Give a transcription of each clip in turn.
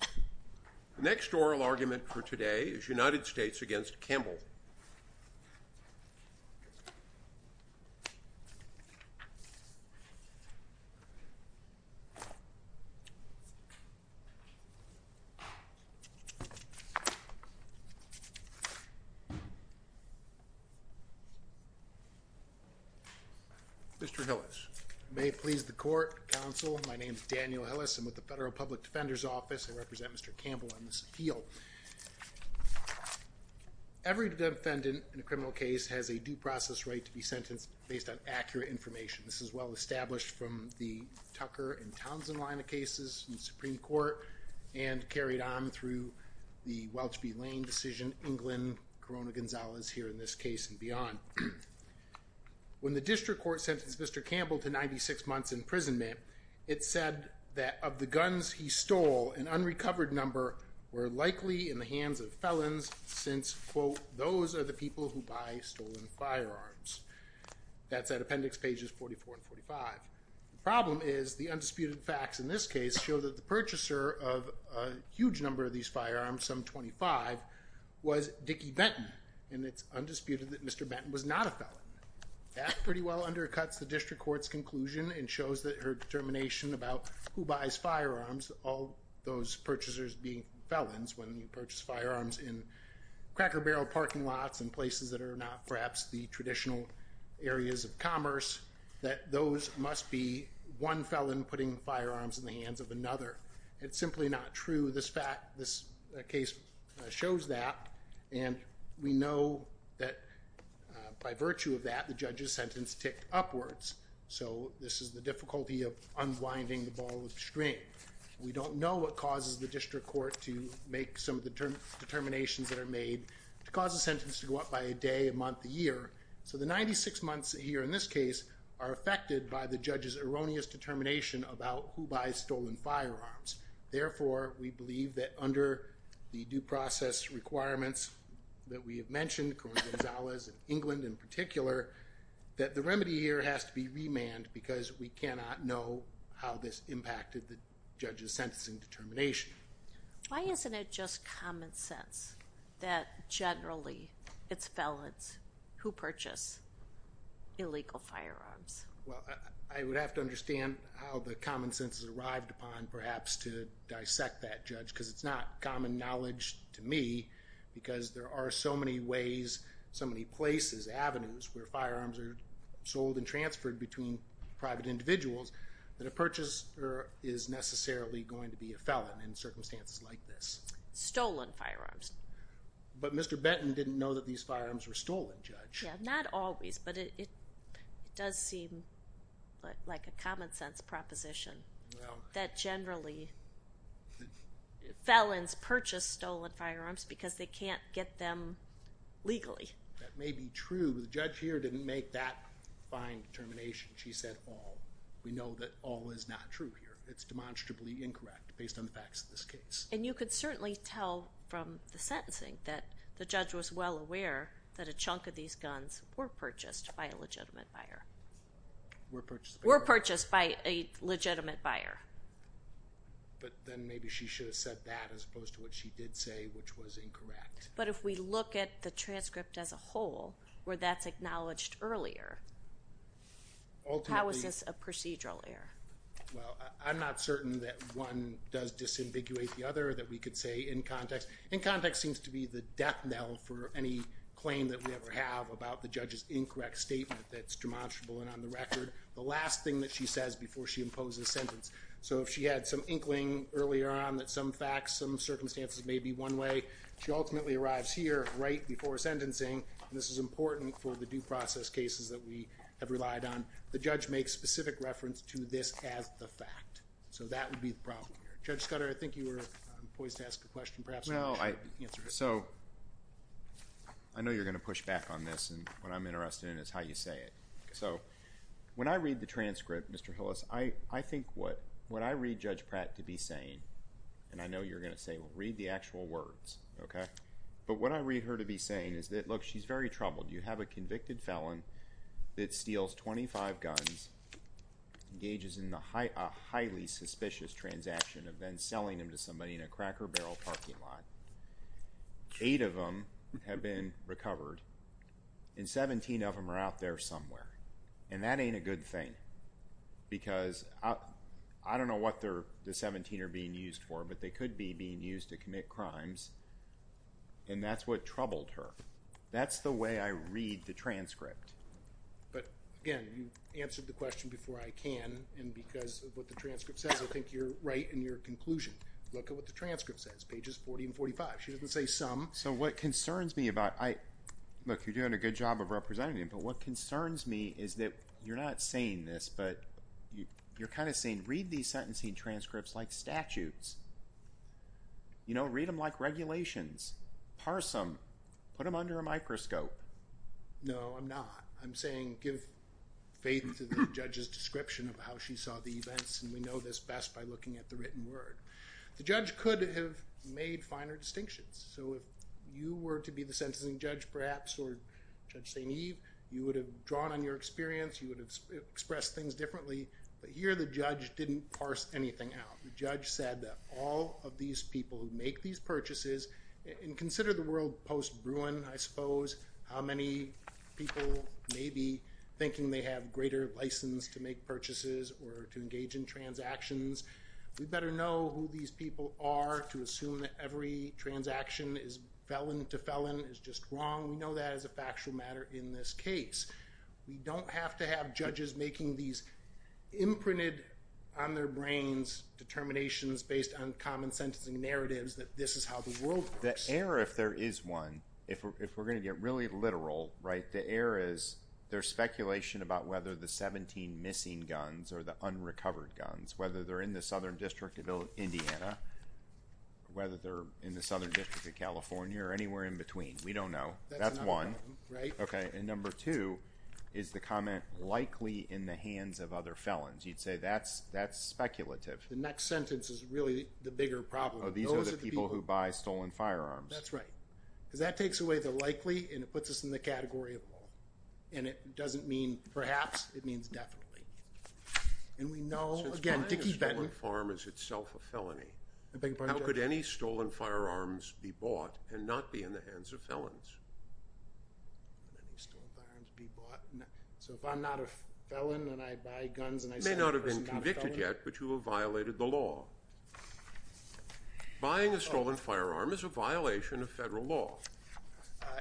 The next oral argument for today is United States v. Campbell. Mr. Hillis. May it please the court, counsel, my name is Daniel Hillis. I'm with the Federal Public Defender's Office. I represent Mr. Campbell on this appeal. Every defendant in a criminal case has a due process right to be sentenced based on accurate information. This is well established from the Tucker and Townsend line of cases in the Supreme Court and carried on through the Welch v. Lane decision, England, Corona-Gonzalez, here in this case and beyond. When the district court sentenced Mr. Campbell to 96 months imprisonment, it said that of the guns he stole, an unrecovered number were likely in the hands of felons since, quote, those are the people who buy stolen firearms. That's at appendix pages 44 and 45. The problem is the undisputed facts in this case show that the purchaser of a huge number of these firearms, some 25, was Dickie Benton, and it's undisputed that Mr. Benton was not a felon. That pretty well undercuts the district court's conclusion and shows that her determination about who buys firearms, all those purchasers being felons when you purchase firearms in cracker barrel parking lots and places that are not perhaps the traditional areas of commerce, that those must be one felon putting firearms in the hands of another. It's simply not true. This case shows that, and we know that by virtue of that, the judge's sentence ticked upwards. So this is the difficulty of unwinding the ball of string. We don't know what causes the district court to make some of the determinations that are made to cause a sentence to go up by a day, a month, a year. So the 96 months here in this case are affected by the judge's erroneous determination about who buys stolen firearms. Therefore, we believe that under the due process requirements that we have mentioned, Corrine Gonzalez in England in particular, that the remedy here has to be remand because we cannot know how this impacted the judge's sentencing determination. Why isn't it just common sense that generally it's felons who purchase illegal firearms? Well, I would have to understand how the common sense has arrived upon perhaps to dissect that, Judge, because it's not common knowledge to me because there are so many ways, so many places, avenues where firearms are sold and transferred between private individuals that a purchaser is necessarily going to be a felon. In circumstances like this. Stolen firearms. But Mr. Benton didn't know that these firearms were stolen, Judge. Yeah, not always, but it does seem like a common sense proposition that generally felons purchase stolen firearms because they can't get them legally. That may be true, but the judge here didn't make that fine determination. She said all. We know that all is not true here. It's demonstrably incorrect based on the facts of this case. And you could certainly tell from the sentencing that the judge was well aware that a chunk of these guns were purchased by a legitimate buyer. Were purchased by a legitimate buyer. But then maybe she should have said that as opposed to what she did say, which was incorrect. But if we look at the transcript as a whole, where that's acknowledged earlier. How is this a procedural error? Well, I'm not certain that one does disambiguate the other that we could say in context. In context seems to be the death knell for any claim that we ever have about the judge's incorrect statement that's demonstrable and on the record. The last thing that she says before she imposes a sentence. So if she had some inkling earlier on that some facts, some circumstances may be one way. She ultimately arrives here right before sentencing. And this is important for the due process cases that we have relied on. The judge makes specific reference to this as the fact. So that would be the problem here. Judge Scudder, I think you were poised to ask a question. Perhaps you can answer it. So I know you're going to push back on this. And what I'm interested in is how you say it. So when I read the transcript, Mr. Hillis, I think what I read Judge Pratt to be saying, and I know you're going to say, well, read the actual words, okay? But what I read her to be saying is that, look, she's very troubled. You have a convicted felon that steals 25 guns, engages in a highly suspicious transaction of then selling them to somebody in a Cracker Barrel parking lot. Eight of them have been recovered. And 17 of them are out there somewhere. And that ain't a good thing because I don't know what the 17 are being used for, but they could be being used to commit crimes. And that's what troubled her. That's the way I read the transcript. But, again, you answered the question before I can. And because of what the transcript says, I think you're right in your conclusion. Look at what the transcript says, pages 40 and 45. She doesn't say some. So what concerns me about – look, you're doing a good job of representing me, but what concerns me is that you're not saying this, but you're kind of saying read these sentencing transcripts like statutes. You know, read them like regulations. Parse them. Put them under a microscope. No, I'm not. I'm saying give faith to the judge's description of how she saw the events, and we know this best by looking at the written word. The judge could have made finer distinctions. So if you were to be the sentencing judge, perhaps, or Judge St. Eve, you would have drawn on your experience. You would have expressed things differently. But here the judge didn't parse anything out. The judge said that all of these people who make these purchases – and consider the world post-Bruin, I suppose, how many people may be thinking they have greater license to make purchases or to engage in transactions. We better know who these people are to assume that every transaction is felon to felon is just wrong. We know that as a factual matter in this case. We don't have to have judges making these imprinted on their brains determinations based on common sentencing narratives that this is how the world works. The error, if there is one, if we're going to get really literal, right, the error is there's speculation about whether the 17 missing guns or the unrecovered guns, whether they're in the Southern District of Indiana, whether they're in the Southern District of California or anywhere in between. We don't know. That's one. Right. Okay. And number two is the comment likely in the hands of other felons. You'd say that's speculative. The next sentence is really the bigger problem. Oh, these are the people who buy stolen firearms. That's right. Because that takes away the likely and it puts us in the category of all. And it doesn't mean perhaps. It means definitely. And we know, again, Dickey-Benton. Since buying a stolen firearm is itself a felony, how could any stolen firearms be bought and not be in the hands of felons? How could any stolen firearms be bought? So if I'm not a felon and I buy guns and I sell them to a person who's not a felon? You may not have been convicted yet, but you have violated the law. Buying a stolen firearm is a violation of federal law.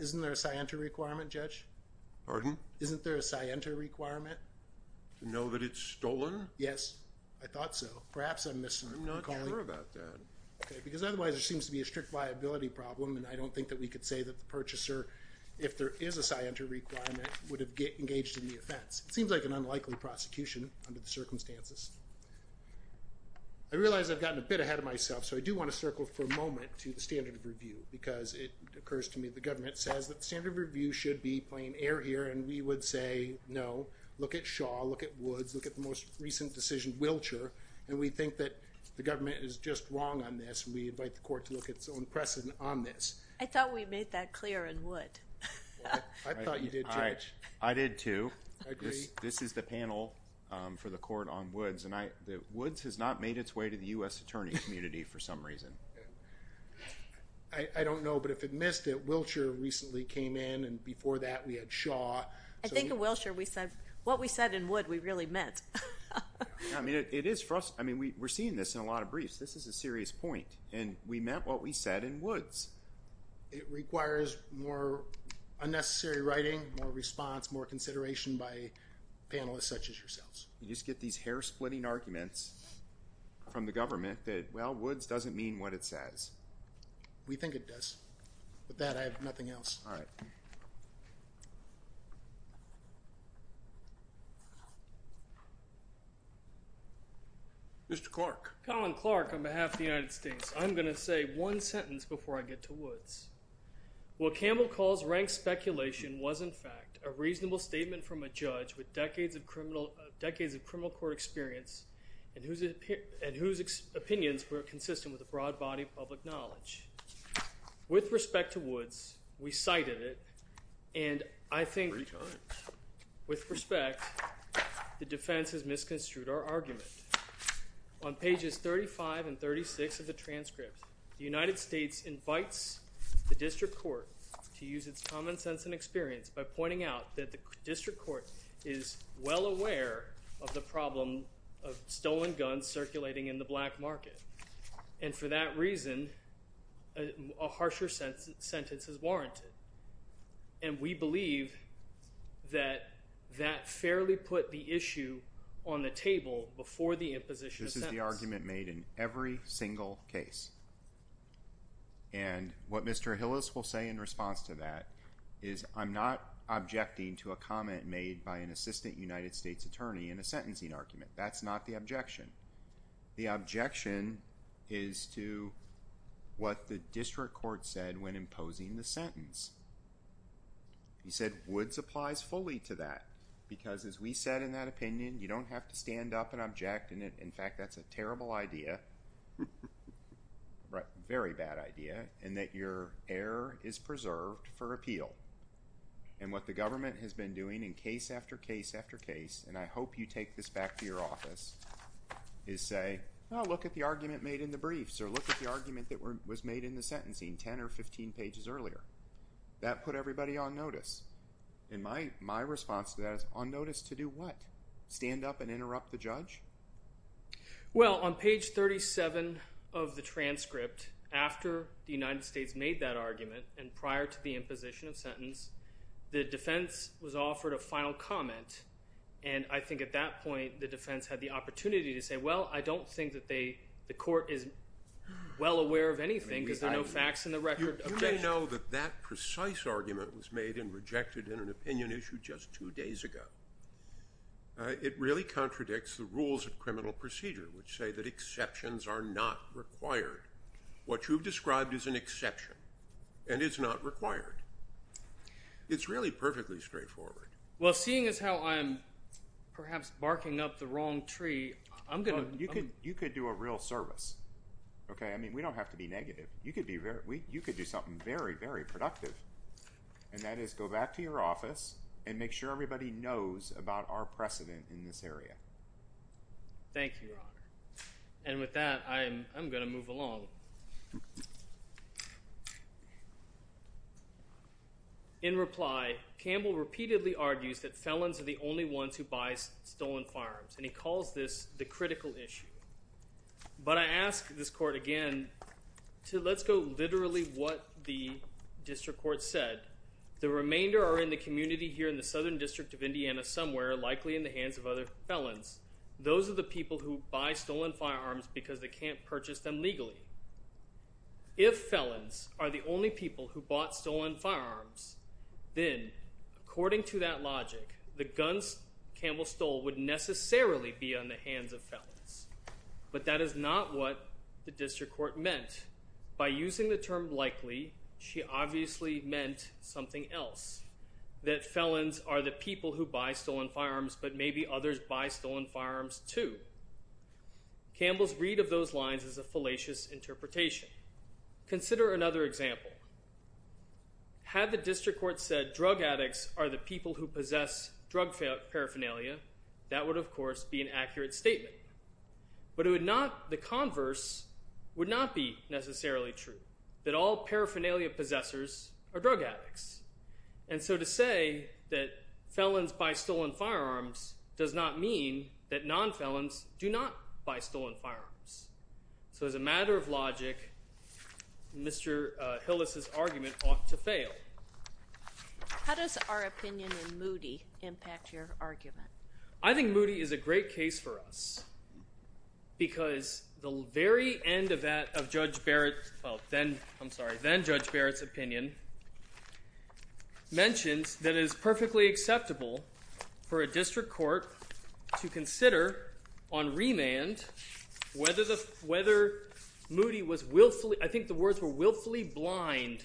Isn't there a scienter requirement, Judge? Pardon? Isn't there a scienter requirement? To know that it's stolen? Yes. I thought so. Perhaps I'm misremembering. I'm not sure about that. Okay. Because otherwise there seems to be a strict liability problem, and I don't think that we could say that the purchaser, if there is a scienter requirement, would have engaged in the offense. It seems like an unlikely prosecution under the circumstances. I realize I've gotten a bit ahead of myself, so I do want to circle for a moment to the standard of review, because it occurs to me the government says that the standard of review should be plain air here, and we would say no. Look at Shaw. Look at Woods. Look at the most recent decision, Wilcher, and we think that the government is just wrong on this, and we invite the court to look at its own precedent on this. I thought we made that clear in Wood. I thought you did, Judge. I did, too. I agree. This is the panel for the court on Woods, and Woods has not made its way to the U.S. attorney community for some reason. I don't know, but if it missed it, Wilcher recently came in, and before that we had Shaw. I think at Wilcher what we said in Wood we really meant. It is frustrating. We're seeing this in a lot of briefs. This is a serious point, and we meant what we said in Woods. It requires more unnecessary writing, more response, more consideration by panelists such as yourselves. You just get these hair-splitting arguments from the government that, well, Woods doesn't mean what it says. We think it does. With that, I have nothing else. All right. Mr. Clark. Colin Clark, on behalf of the United States, I'm going to say one sentence before I get to Woods. What Campbell calls rank speculation was, in fact, a reasonable statement from a judge with decades of criminal court experience and whose opinions were consistent with a broad body of public knowledge. With respect to Woods, we cited it, and I think with respect the defense has misconstrued our argument. On pages 35 and 36 of the transcript, the United States invites the district court to use its common sense and experience by pointing out that the district court is well aware of the problem of stolen guns circulating in the black market, and for that reason a harsher sentence is warranted, and we believe that that fairly put the issue on the table before the imposition of sentence. This is the argument made in every single case, and what Mr. Hillis will say in response to that is, I'm not objecting to a comment made by an assistant United States attorney in a sentencing argument. That's not the objection. The objection is to what the district court said when imposing the sentence. He said Woods applies fully to that, because as we said in that opinion, you don't have to stand up and object, and in fact that's a terrible idea, very bad idea, and that your error is preserved for appeal, and what the government has been doing in case after case after case, and I hope you take this back to your office, is say, oh, look at the argument made in the briefs, or look at the argument that was made in the sentencing 10 or 15 pages earlier. That put everybody on notice, and my response to that is on notice to do what? Stand up and interrupt the judge? Well, on page 37 of the transcript, after the United States made that argument, and prior to the imposition of sentence, the defense was offered a final comment, and I think at that point the defense had the opportunity to say, well, I don't think that the court is well aware of anything because there are no facts in the record. You may know that that precise argument was made and rejected in an opinion issue just two days ago. It really contradicts the rules of criminal procedure, which say that exceptions are not required. What you've described is an exception, and it's not required. It's really perfectly straightforward. Well, seeing as how I'm perhaps barking up the wrong tree, I'm going to— You could do a real service, okay? I mean, we don't have to be negative. You could do something very, very productive, and that is go back to your office and make sure everybody knows about our precedent in this area. Thank you, Your Honor. And with that, I'm going to move along. In reply, Campbell repeatedly argues that felons are the only ones who buy stolen firearms, and he calls this the critical issue. But I ask this court again to let's go literally what the district court said. The remainder are in the community here in the Southern District of Indiana somewhere, likely in the hands of other felons. Those are the people who buy stolen firearms because they can't purchase them legally. If felons are the only people who bought stolen firearms, then according to that logic, the guns Campbell stole would necessarily be on the hands of felons. But that is not what the district court meant. By using the term likely, she obviously meant something else, that felons are the people who buy stolen firearms, but maybe others buy stolen firearms too. Campbell's read of those lines is a fallacious interpretation. Consider another example. Had the district court said drug addicts are the people who possess drug paraphernalia, that would, of course, be an accurate statement. But it would not, the converse would not be necessarily true, that all paraphernalia possessors are drug addicts. And so to say that felons buy stolen firearms does not mean that nonfelons do not buy stolen firearms. So as a matter of logic, Mr. Hillis's argument ought to fail. How does our opinion in Moody impact your argument? I think Moody is a great case for us because the very end of Judge Barrett's, well, then, I'm sorry, then Judge Barrett's opinion mentions that it is perfectly acceptable for a district court to consider on remand whether Moody was willfully, I think the words were willfully blind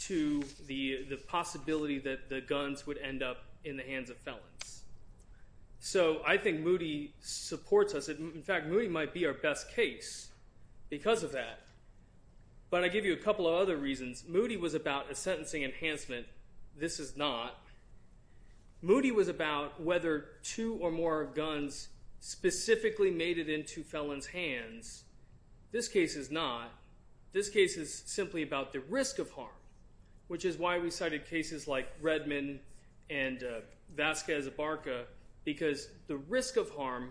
to the possibility that the guns would end up in the hands of felons. So I think Moody supports us. In fact, Moody might be our best case because of that. But I give you a couple of other reasons. Moody was about a sentencing enhancement. This is not. Moody was about whether two or more guns specifically made it into felons' hands. This case is not. This case is simply about the risk of harm, which is why we cited cases like Redman and Vasquez-Barca because the risk of harm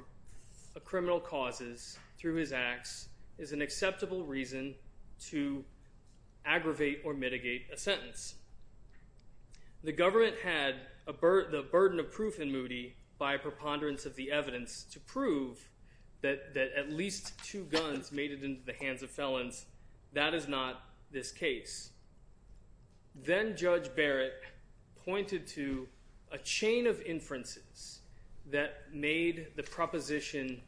a criminal causes through his acts is an acceptable reason to aggravate or mitigate a sentence. The government had the burden of proof in Moody by preponderance of the evidence to prove that at least two guns made it into the hands of felons. That is not this case. Then Judge Barrett pointed to a chain of inferences that made the proposition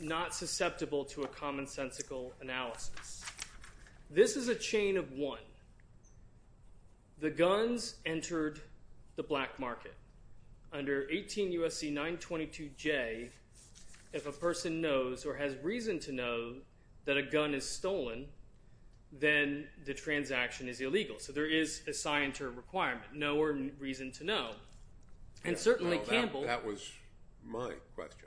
not susceptible to a commonsensical analysis. This is a chain of one. The guns entered the black market. Under 18 U.S.C. 922J, if a person knows or has reason to know that a gun is stolen, then the transaction is illegal. So there is a scienter requirement, know or reason to know. That was my question.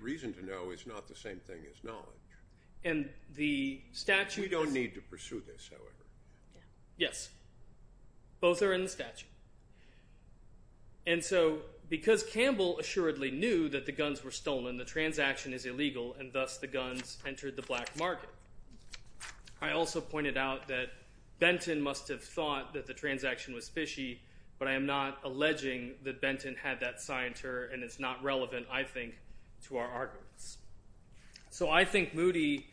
Reason to know is not the same thing as knowledge. We don't need to pursue this, however. Yes. Both are in the statute. And so because Campbell assuredly knew that the guns were stolen, the transaction is illegal, and thus the guns entered the black market. I also pointed out that Benton must have thought that the transaction was fishy, but I am not alleging that Benton had that scienter, and it's not relevant, I think, to our arguments. So I think Moody,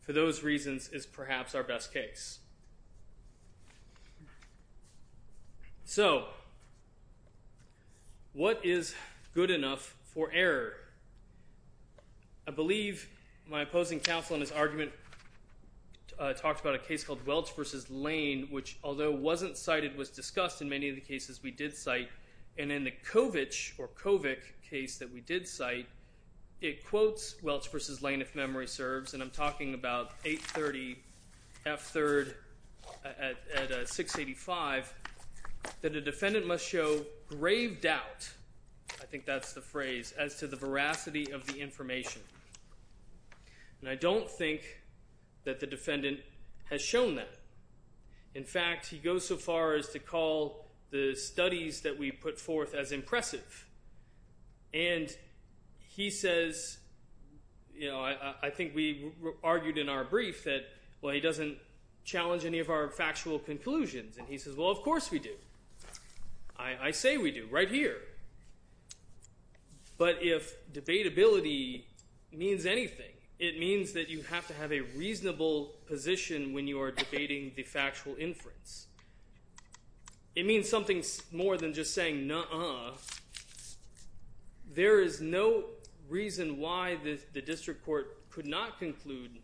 for those reasons, is perhaps our best case. So what is good enough for error? I believe my opposing counsel in his argument talked about a case called Welch v. Lane, which, although wasn't cited, was discussed in many of the cases we did cite, and in the Kovic case that we did cite, it quotes Welch v. Lane, if memory serves, and I'm talking about 830 F. 3rd at 685, that a defendant must show grave doubt, I think that's the phrase, as to the veracity of the information. And I don't think that the defendant has shown that. In fact, he goes so far as to call the studies that we put forth as impressive. And he says, you know, I think we argued in our brief that, well, he doesn't challenge any of our factual conclusions, and he says, well, of course we do. I say we do, right here. But if debatability means anything, it means that you have to have a reasonable position when you are debating the factual inference. It means something more than just saying, nuh-uh. There is no reason why the district court could not conclude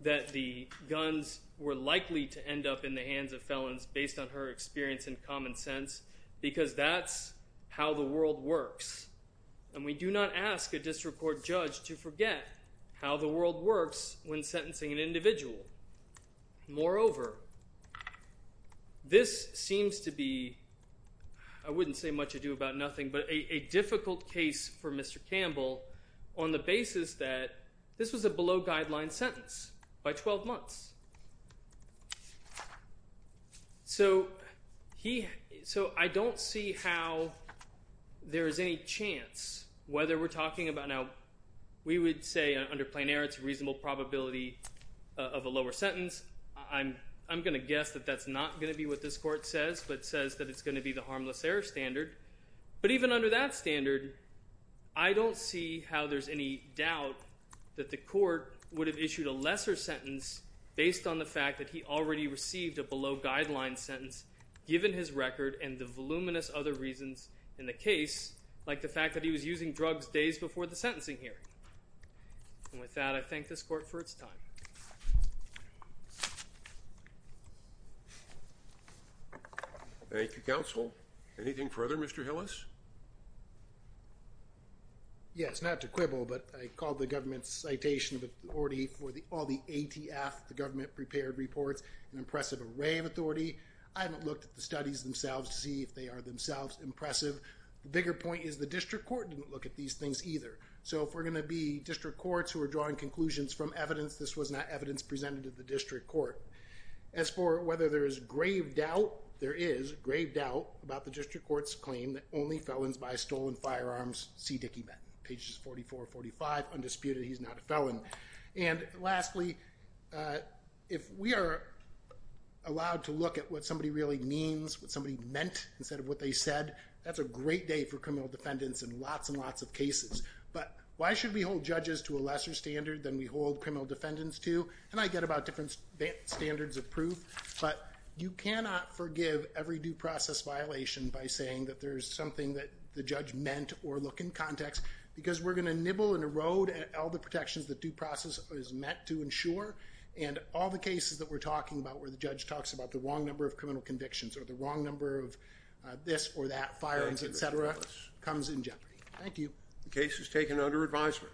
that the guns were likely to end up in the hands of felons based on her experience in common sense, because that's how the world works. And we do not ask a district court judge to forget how the world works when sentencing an individual. Moreover, this seems to be, I wouldn't say much ado about nothing, but a difficult case for Mr. Campbell on the basis that this was a below-guideline sentence by 12 months. So I don't see how there is any chance, whether we're talking about now, we would say under plain error it's a reasonable probability of a lower sentence. I'm going to guess that that's not going to be what this court says, but says that it's going to be the harmless error standard. But even under that standard, I don't see how there's any doubt that the court would have issued a lesser sentence based on the fact that he already received a below-guideline sentence, given his record and the voluminous other reasons in the case, like the fact that he was using drugs days before the sentencing hearing. And with that, I thank this court for its time. Thank you, counsel. Anything further, Mr. Hillis? Yes, not to quibble, but I called the government's citation of authority for all the ATF, the government-prepared reports, an impressive array of authority. I haven't looked at the studies themselves to see if they are themselves impressive. The bigger point is the district court didn't look at these things either. So if we're going to be district courts who are drawing conclusions from evidence, this was not evidence presented to the district court. As for whether there is grave doubt, there is grave doubt about the district court's claim that only felons buy stolen firearms, see Dickey Benton. Pages 44-45, undisputed, he's not a felon. And lastly, if we are allowed to look at what somebody really means, what somebody meant instead of what they said, that's a great day for criminal defendants in lots and lots of cases. But why should we hold judges to a lesser standard than we hold criminal defendants to? And I get about different standards of proof, but you cannot forgive every due process violation by saying that there's something that the judge meant or look in context because we're going to nibble and erode at all the protections that due process is meant to ensure. And all the cases that we're talking about where the judge talks about the wrong number of criminal convictions or the wrong number of this or that, firearms, et cetera, comes in jeopardy. Thank you. The case is taken under advisement.